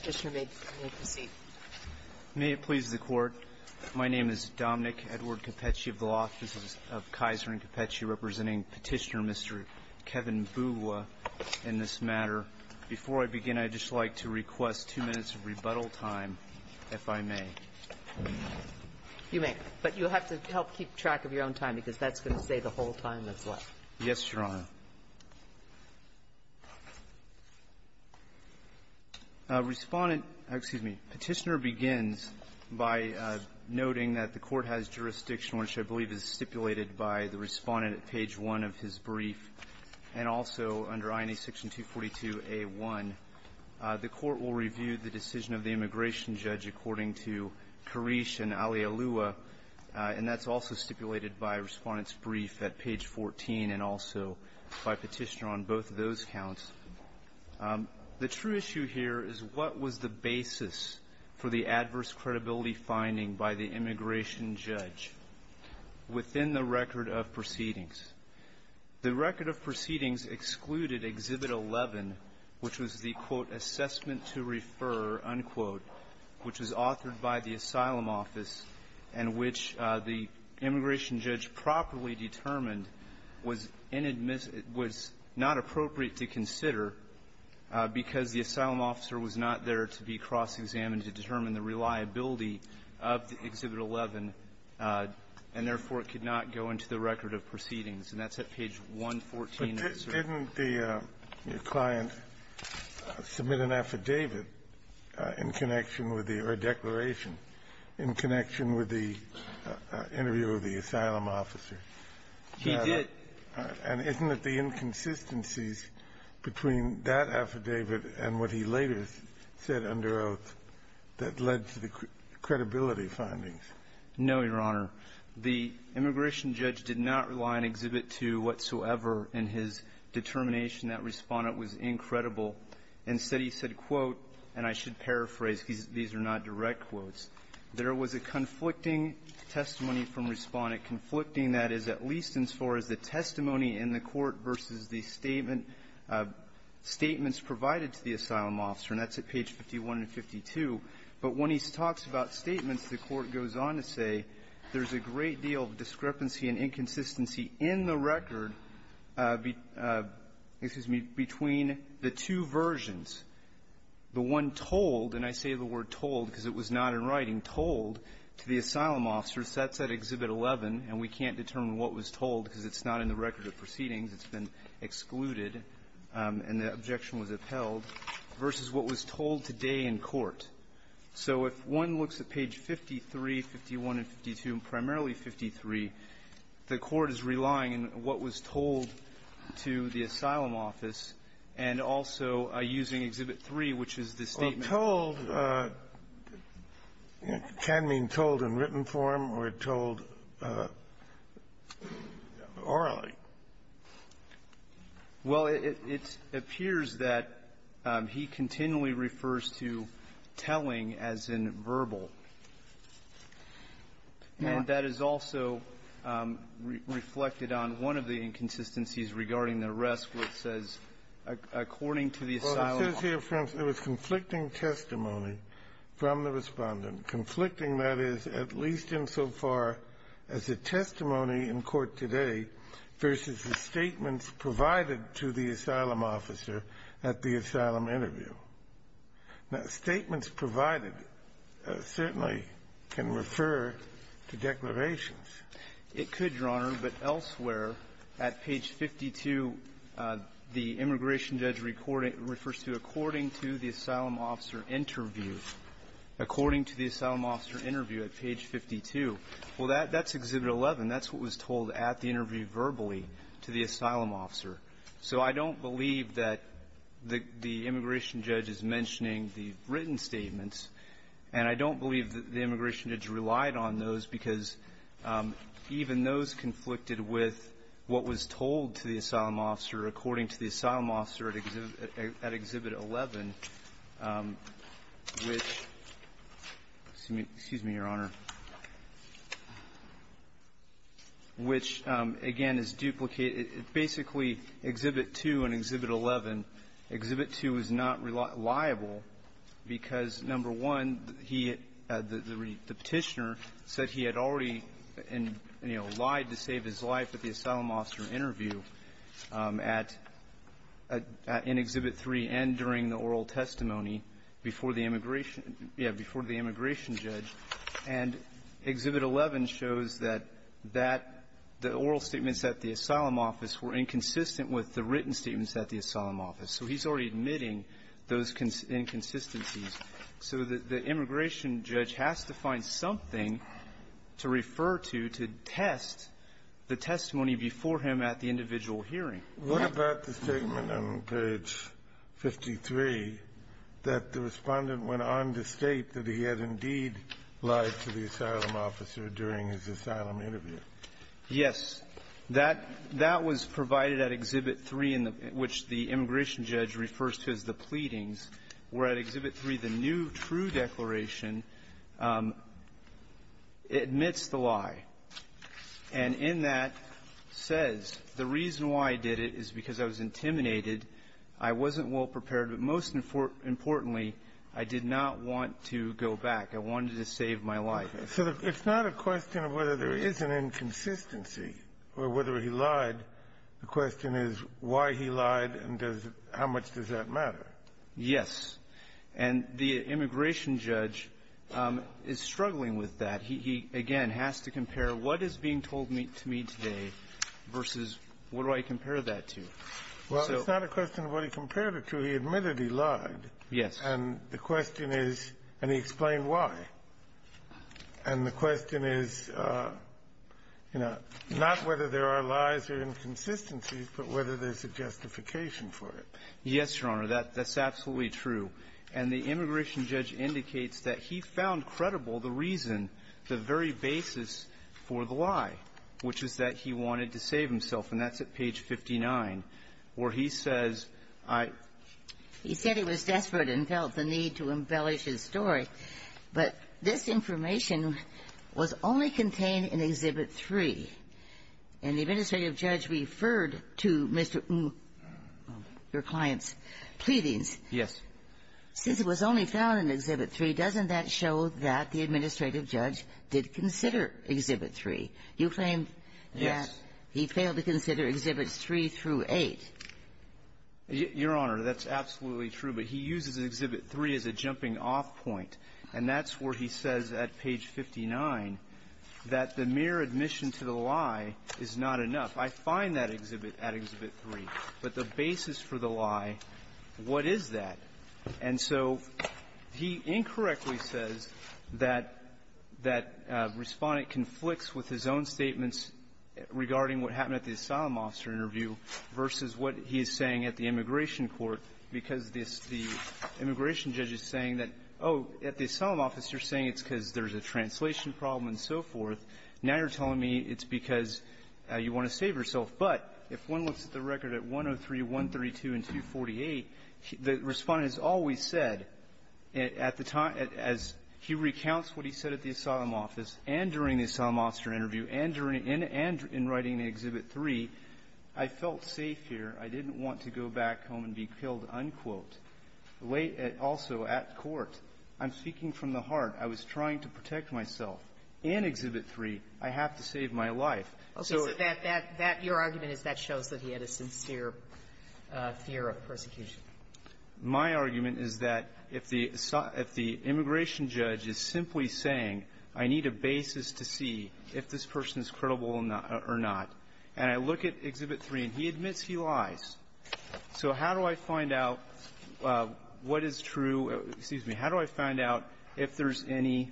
Petitioner may proceed. May it please the Court. My name is Dominic Edward Capecci of the Office of Kaiser and Capecci, representing Petitioner Mr. Kevin Mbugua in this matter. Before I begin, I'd just like to request two minutes of rebuttal time, if I may. You may, but you'll have to help keep track of your own time, because that's going to say the whole time as well. Yes, Your Honor. Respondent – excuse me – Petitioner begins by noting that the Court has jurisdiction, which I believe is stipulated by the Respondent at page 1 of his brief, and also under INA section 242A1. The Court will review the decision of the immigration judge according to Karish and Alialua, and that's also stipulated by Respondent's brief at page 14 and also by Petitioner on both of those counts. The true issue here is what was the basis for the adverse credibility finding by the immigration judge within the record of proceedings? The record of proceedings excluded Exhibit 11, which was the, quote, assessment to refer, unquote, which was authored by the Asylum Office and which the immigration judge properly determined was inadmissible – was not appropriate to consider because the Asylum officer was not there to be cross-examined to determine the reliability of the Exhibit 11, and therefore, it could not go into the record of proceedings. And that's at page 114 of his brief. But didn't the client submit an affidavit in connection with the – or a declaration in connection with the interview of the asylum officer? He did. And isn't it the inconsistencies between that affidavit and what he later said under oath that led to the credibility findings? No, Your Honor. The immigration judge did not rely on Exhibit 2 whatsoever in his determination. That Respondent was incredible. Instead, he said, quote – and I should paraphrase. These are not direct quotes. There was a conflicting testimony from Respondent, conflicting, that is, at least as far as the testimony in the court versus the statement – statements provided to the asylum officer, and that's at page 51 and 52. But when he talks about statements, the Court goes on to say there's a great deal of discrepancy and inconsistency in the record between the two versions. The one told – and I say the word told because it was not in writing – told to the asylum officer, that's at Exhibit 11, and we can't determine what was told because it's not in the record of proceedings, it's been excluded, and the objection was upheld, versus what was told today in court. So if one looks at page 53, 51, and 52, and primarily 53, the Court is relying on what was told to the asylum office and also using Exhibit 3, which is the statement. Kennedy. Well, told can mean told in written form or told orally. Well, it appears that he continually refers to telling as in verbal. And that is also reflected on one of the inconsistencies regarding the rest, which says, according to the asylum office – Well, it says here, for instance, it was conflicting testimony from the Respondent, conflicting, that is, at least insofar as the testimony in court today versus the statements provided to the asylum officer at the asylum interview. It could, Your Honor, but elsewhere, at page 52, the immigration judge refers to according to the asylum officer interview, according to the asylum officer interview at page 52. Well, that's Exhibit 11. That's what was told at the interview verbally to the asylum officer. So I don't believe that the immigration judge is mentioning the written statements, and I don't believe that the immigration judge relied on those, because even those conflicted with what was told to the asylum officer according to the asylum officer at Exhibit 11, which – excuse me, Your Honor – which, again, is duplicated. Basically, Exhibit 2 and Exhibit 11, Exhibit 2 is not reliable because, number one, he – the Petitioner said he had already, you know, lied to save his life at the asylum officer interview at – in Exhibit 3 and during the oral testimony before the immigration – yeah, before the immigration judge. And Exhibit 11 shows that that – the oral statements at the asylum office were inconsistent with the written inconsistencies. So the immigration judge has to find something to refer to, to test the testimony before him at the individual hearing. What about the statement on page 53 that the Respondent went on to state that he had indeed lied to the asylum officer during his asylum interview? Yes. That – that was provided at Exhibit 3, in which the immigration judge refers to as the pleadings, where at Exhibit 3, the new true declaration admits the lie. And in that says, the reason why I did it is because I was intimidated. I wasn't well-prepared. But most importantly, I did not want to go back. I wanted to save my life. So it's not a question of whether there is an inconsistency or whether he lied. The question is why he lied and does – how much does that matter? Yes. And the immigration judge is struggling with that. He, again, has to compare what is being told to me today versus what do I compare that to. Well, it's not a question of what he compared it to. He admitted he lied. Yes. And the question is – and he explained why. And the question is, you know, not whether there are lies or inconsistencies, but whether there's a justification for it. Yes, Your Honor. That's absolutely true. And the immigration judge indicates that he found credible the reason, the very basis for the lie, which is that he wanted to save himself. And that's at page 59, where he says, I – He said he was desperate and felt the need to embellish his story. But this information was only contained in Exhibit 3. And the administrative judge referred to Mr. Ng, your client's, pleadings. Yes. Since it was only found in Exhibit 3, doesn't that show that the administrative judge did consider Exhibit 3? You claim that he failed to consider Exhibits 3 through 8. Your Honor, that's absolutely true. But he uses Exhibit 3 as a jumping-off point. And that's where he says at page 59 that the mere admission to the lie is not enough. I find that exhibit at Exhibit 3. But the basis for the lie, what is that? And so he incorrectly says that that Respondent conflicts with his own statements regarding what happened at the asylum officer interview versus what he is saying at the immigration court, because the immigration judge is saying that, oh, at the asylum officer, you're saying it's because there's a translation problem and so forth. Now you're telling me it's because you want to save yourself. But if one looks at the record at 103, 132, and 248, the Respondent has always said at the time, as he recounts what he said at the asylum office and during the asylum officer interview and during – and in writing Exhibit 3, I felt safe here. I didn't want to go back home and be killed, unquote. Also, at court, I'm speaking from the heart. I was trying to protect myself. In Exhibit 3, I have to save my life. So that – that – your argument is that shows that he had a sincere fear of persecution. My argument is that if the – if the immigration judge is simply saying, I need a basis to see if this person is credible or not. And I look at Exhibit 3, and he admits he lies. So how do I find out what is true – excuse me. How do I find out if there's any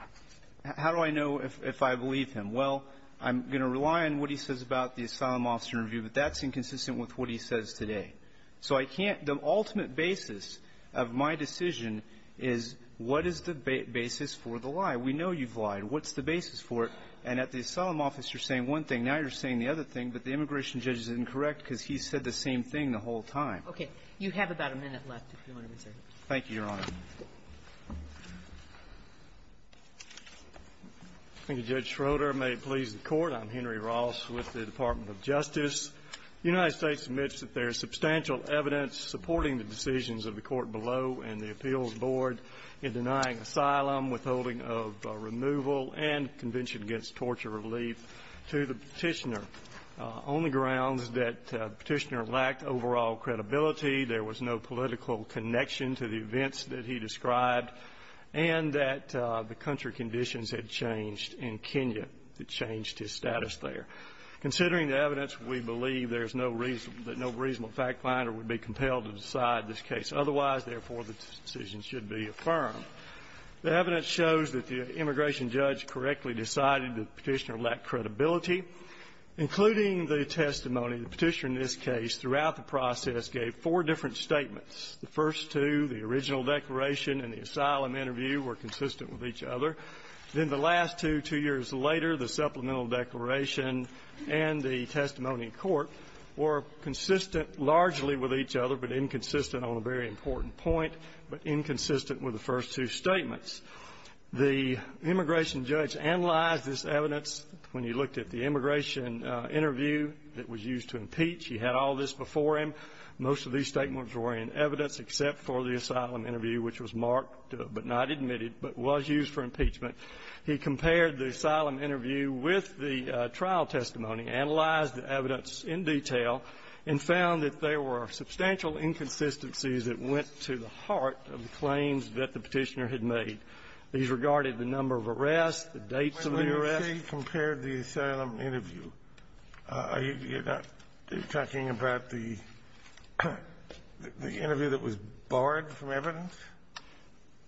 – how do I know if I believe him? Well, I'm going to rely on what he says about the asylum officer interview, but that's inconsistent with what he says today. So I can't – the ultimate basis of my decision is what is the basis for the lie. We know you've lied. What's the basis for it? And at the asylum officer, you're saying one thing. Now you're saying the other thing. But the immigration judge is incorrect because he said the same thing the whole time. Okay. You have about a minute left, if you want to reserve it. Thank you, Your Honor. Thank you, Judge Schroeder. May it please the Court. I'm Henry Ross with the Department of Justice. The United States admits that there is substantial evidence supporting the decisions of the court below and the appeals board in denying asylum, withholding of removal, and convention against torture relief to the Petitioner on the grounds that the Petitioner lacked overall credibility, there was no political connection to the events that he described, and that the country conditions had changed in Kenya. It changed his status there. Considering the evidence, we believe there is no reason – that no reasonable fact finder would be compelled to decide this case. Otherwise, therefore, the decision should be affirmed. The evidence shows that the immigration judge correctly decided that the Petitioner lacked credibility. Including the testimony, the Petitioner in this case throughout the process gave four different statements. The first two, the original declaration and the asylum interview, were consistent with each other. Then the last two, two years later, the supplemental declaration and the testimony in court were consistent largely with each other, but inconsistent on a very important point, but inconsistent with the first two statements. The immigration judge analyzed this evidence. When he looked at the immigration interview that was used to impeach, he had all this before him. Most of these statements were in evidence except for the asylum interview, which was marked but not admitted, but was used for impeachment. He compared the asylum interview with the trial testimony, analyzed the evidence in went to the heart of the claims that the Petitioner had made. He's regarded the number of arrests, the dates of the arrests. When you say compared the asylum interview, are you talking about the interview that was borrowed from evidence?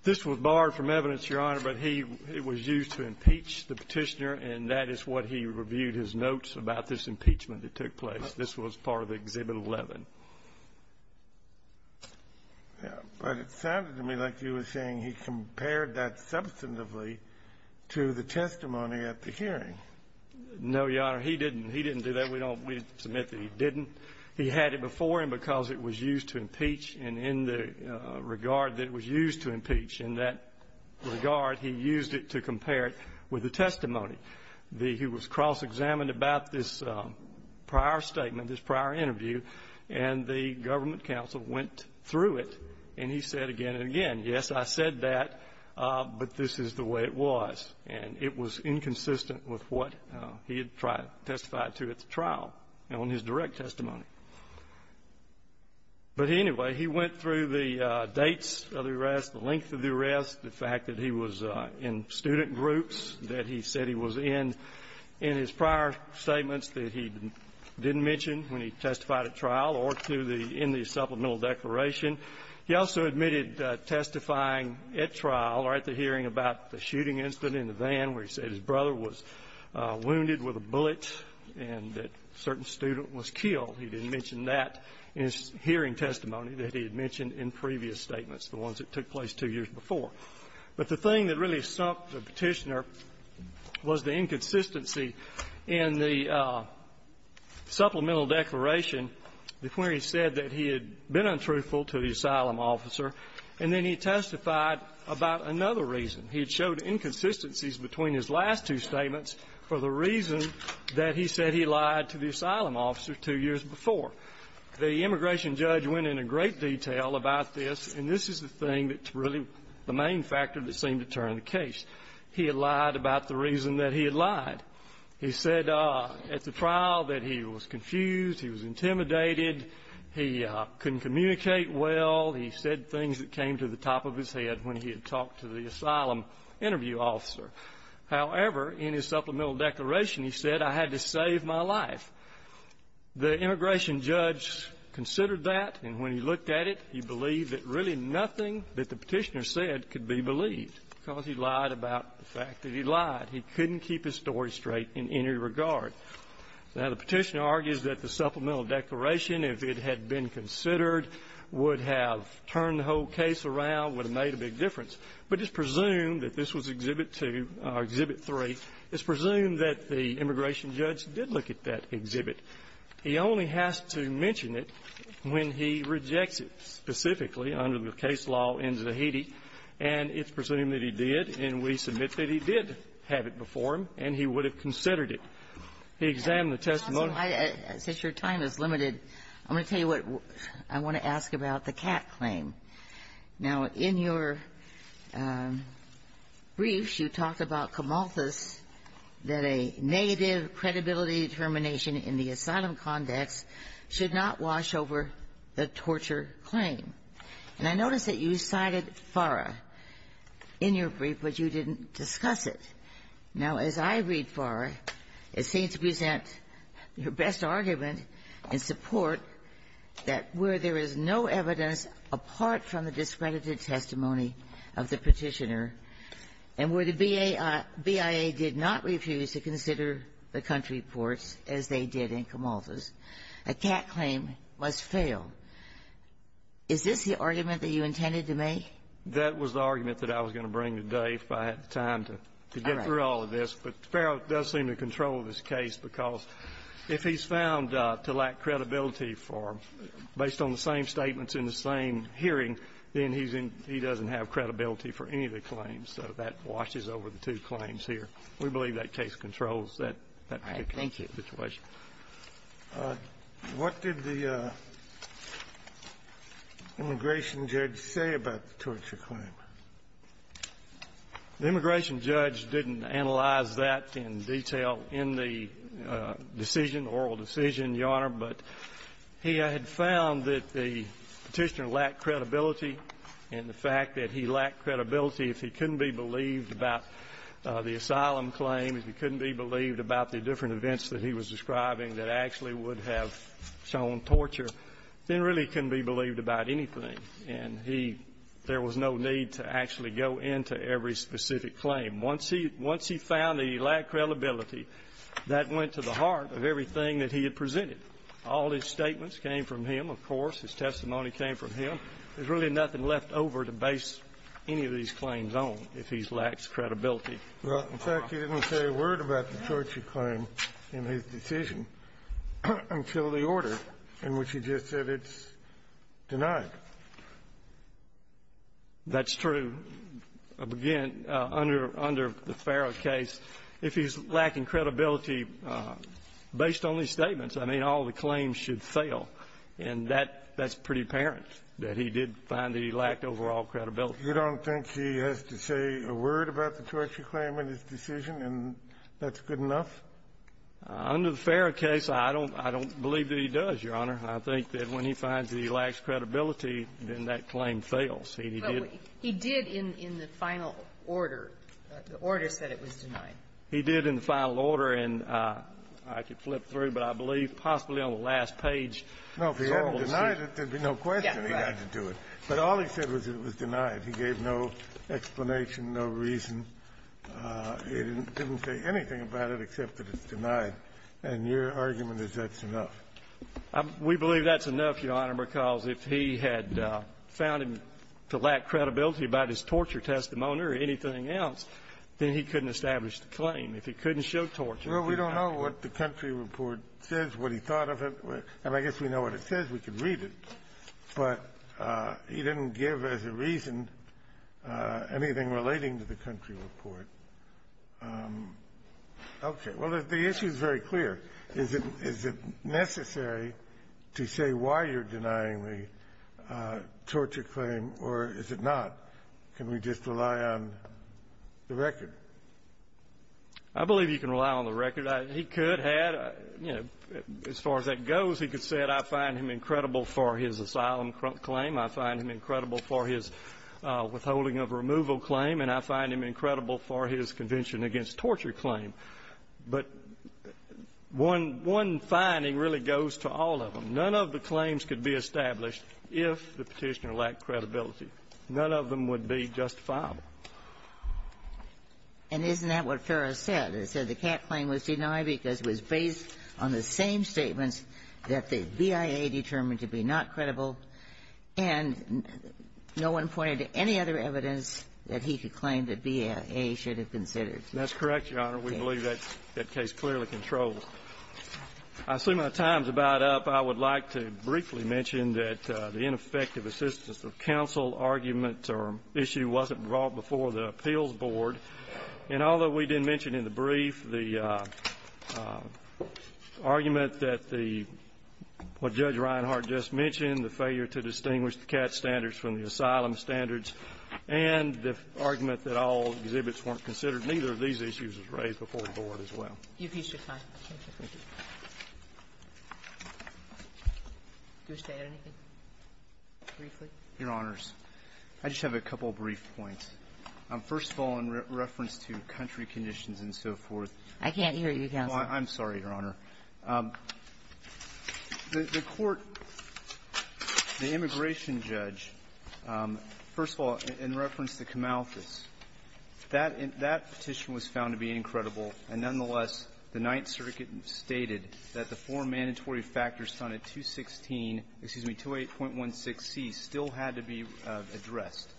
This was borrowed from evidence, Your Honor, but he was used to impeach the Petitioner, and that is what he reviewed his notes about this impeachment that took place. This was part of Exhibit 11. But it sounded to me like you were saying he compared that substantively to the testimony at the hearing. No, Your Honor. He didn't. He didn't do that. We don't submit that he didn't. He had it before him because it was used to impeach, and in the regard that it was used to impeach, in that regard, he used it to compare it with the testimony. He was cross-examined about this prior statement, this prior interview, and the government counsel went through it, and he said again and again, yes, I said that, but this is the way it was. And it was inconsistent with what he had tried to testify to at the trial and on his direct testimony. But anyway, he went through the dates of the arrests, the length of the arrests, the fact that he was in student groups that he said he was in, in his prior statements that he didn't mention when he testified at trial or to the end of the supplemental declaration. He also admitted testifying at trial or at the hearing about the shooting incident in the van where he said his brother was wounded with a bullet and that a certain student was killed. He didn't mention that in his hearing testimony that he had mentioned in previous statements, the ones that took place two years before. But the thing that really stumped the Petitioner was the inconsistency in the supplemental declaration where he said that he had been untruthful to the asylum officer, and then he testified about another reason. He had showed inconsistencies between his last two statements for the reason that he said he lied to the asylum officer two years before. The immigration judge went into great detail about this, and this is the thing that's really the main factor that seemed to turn the case. He had lied about the reason that he had lied. He said at the trial that he was confused, he was intimidated, he couldn't communicate well, he said things that came to the top of his head when he had talked to the asylum interview officer. However, in his supplemental declaration, he said, I had to save my life. The immigration judge considered that, and when he looked at it, he believed that really nothing that the Petitioner said could be believed because he lied about the fact that he lied. He couldn't keep his story straight in any regard. Now, the Petitioner argues that the supplemental declaration, if it had been considered, would have turned the whole case around, would have made a big difference. But it's presumed that this was Exhibit 2 or Exhibit 3. It's presumed that the immigration judge did look at that exhibit. He only has to mention it when he rejects it specifically under the case law in Zahedi, and it's presumed that he did, and we submit that he did have it before him and he would have considered it. He examined the testimony. Since your time is limited, I'm going to tell you what I want to ask about the Catt claim. Now, in your briefs, you talked about Camalthus, that a negative credibility determination in the asylum context should not wash over the torture claim. And I notice that you cited FARA in your brief, but you didn't discuss it. Now, as I read FARA, it seems to present your best argument in support that where there is no evidence apart from the discredited testimony of the Petitioner and where the BIA did not refuse to consider the country courts as they did in Camalthus, a Catt claim must fail. Is this the argument that you intended to make? That was the argument that I was going to bring today if I had the time to get through all of this. But FARA does seem to control this case because if he's found to lack credibility for the same statements in the same hearing, then he's in he doesn't have credibility for any of the claims. So that washes over the two claims here. We believe that case controls that particular situation. All right. Thank you. What did the immigration judge say about the torture claim? The immigration judge didn't analyze that in detail in the decision, oral decision, Your Honor, but he had found that the Petitioner lacked credibility and the fact that he lacked credibility if he couldn't be believed about the asylum claim, if he couldn't be believed about the different events that he was describing that actually would have shown torture, then really couldn't be believed about anything. And he there was no need to actually go into every specific claim. Once he found that he lacked credibility, that went to the heart of everything that he had presented. All his statements came from him, of course. His testimony came from him. There's really nothing left over to base any of these claims on if he's lacked credibility. Well, in fact, he didn't say a word about the torture claim in his decision until the order in which he just said it's denied. That's true. Again, under the Farrah case, if he's lacking credibility, based on his statements, I mean, all the claims should fail. And that's pretty apparent, that he did find that he lacked overall credibility. You don't think he has to say a word about the torture claim in his decision, and that's good enough? Under the Farrah case, I don't believe that he does, Your Honor. I think that when he finds that he lacks credibility, then that claim fails. Well, he did in the final order. The order said it was denied. He did in the final order, and I could flip through, but I believe possibly on the last page. No, if he hadn't denied it, there'd be no question he had to do it. But all he said was it was denied. He gave no explanation, no reason. He didn't say anything about it except that it's denied. And your argument is that's enough. We believe that's enough, Your Honor, because if he had found him to lack credibility about his torture testimony or anything else, then he couldn't establish the claim. If he couldn't show torture, he denied it. Well, we don't know what the country report says, what he thought of it. And I guess we know what it says, we can read it. But he didn't give, as a reason, anything relating to the country report. Okay. Well, the issue is very clear. Is it necessary to say why you're denying the torture claim, or is it not? Can we just rely on the record? I believe you can rely on the record. He could have. You know, as far as that goes, he could have said, I find him incredible for his asylum claim. I find him incredible for his withholding of removal claim. And I find him incredible for his convention against torture claim. But one finding really goes to all of them. None of the claims could be established if the Petitioner lacked credibility. None of them would be justifiable. And isn't that what Ferris said? It said the Catt claim was denied because it was based on the same statements that the BIA determined to be not credible, and no one pointed to any other evidence that he could claim that BIA should have considered. That's correct, Your Honor. We believe that case clearly controls. I see my time's about up. I would like to briefly mention that the ineffective assistance of counsel argument or issue wasn't brought before the appeals board. And although we didn't mention in the brief the argument that the, what Judge Reinhardt just mentioned, the failure to distinguish the Catt standards from the asylum standards, and the argument that all exhibits weren't considered, neither of these issues was raised before the board as well. You've used your time. Thank you. Thank you. Do you wish to add anything briefly? Your Honors, I just have a couple of brief points. First of all, in reference to country conditions and so forth ---- I can't hear you, counsel. I'm sorry, Your Honor. The court, the immigration judge, first of all, in reference to Kamalthus, that petition was found to be incredible, and nonetheless, the Ninth Circuit stated that the four mandatory factors found at 216 ---- excuse me, 28.16c still had to be addressed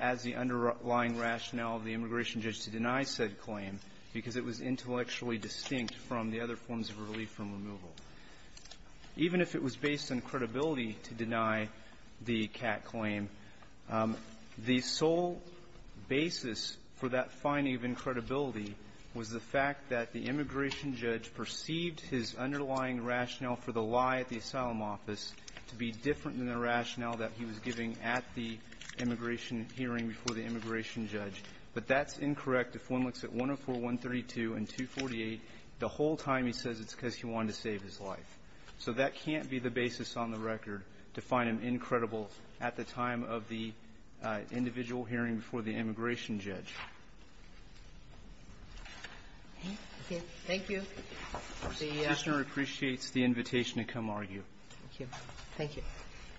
as the underlying rationale of the immigration judge to deny said claim because it was intellectually distinct from the other forms of relief from removal. Even if it was based on credibility to deny the Catt claim, the sole basis for that finding of incredibility was the fact that the immigration judge perceived his underlying rationale for the lie at the asylum office to be different than the rationale that he was giving at the immigration hearing before the immigration judge. But that's incorrect. If one looks at 104.132 and 248, the whole time he says it's because he wanted to save his life. So that can't be the basis on the record to find him incredible at the time of the individual hearing before the immigration judge. Thank you. The ---- The Prosecutor appreciates the invitation to come argue. Thank you. Thank you.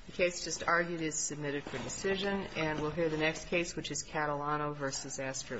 The case just argued is submitted for decision. And we'll hear the next case, which is Catalano v. Astor.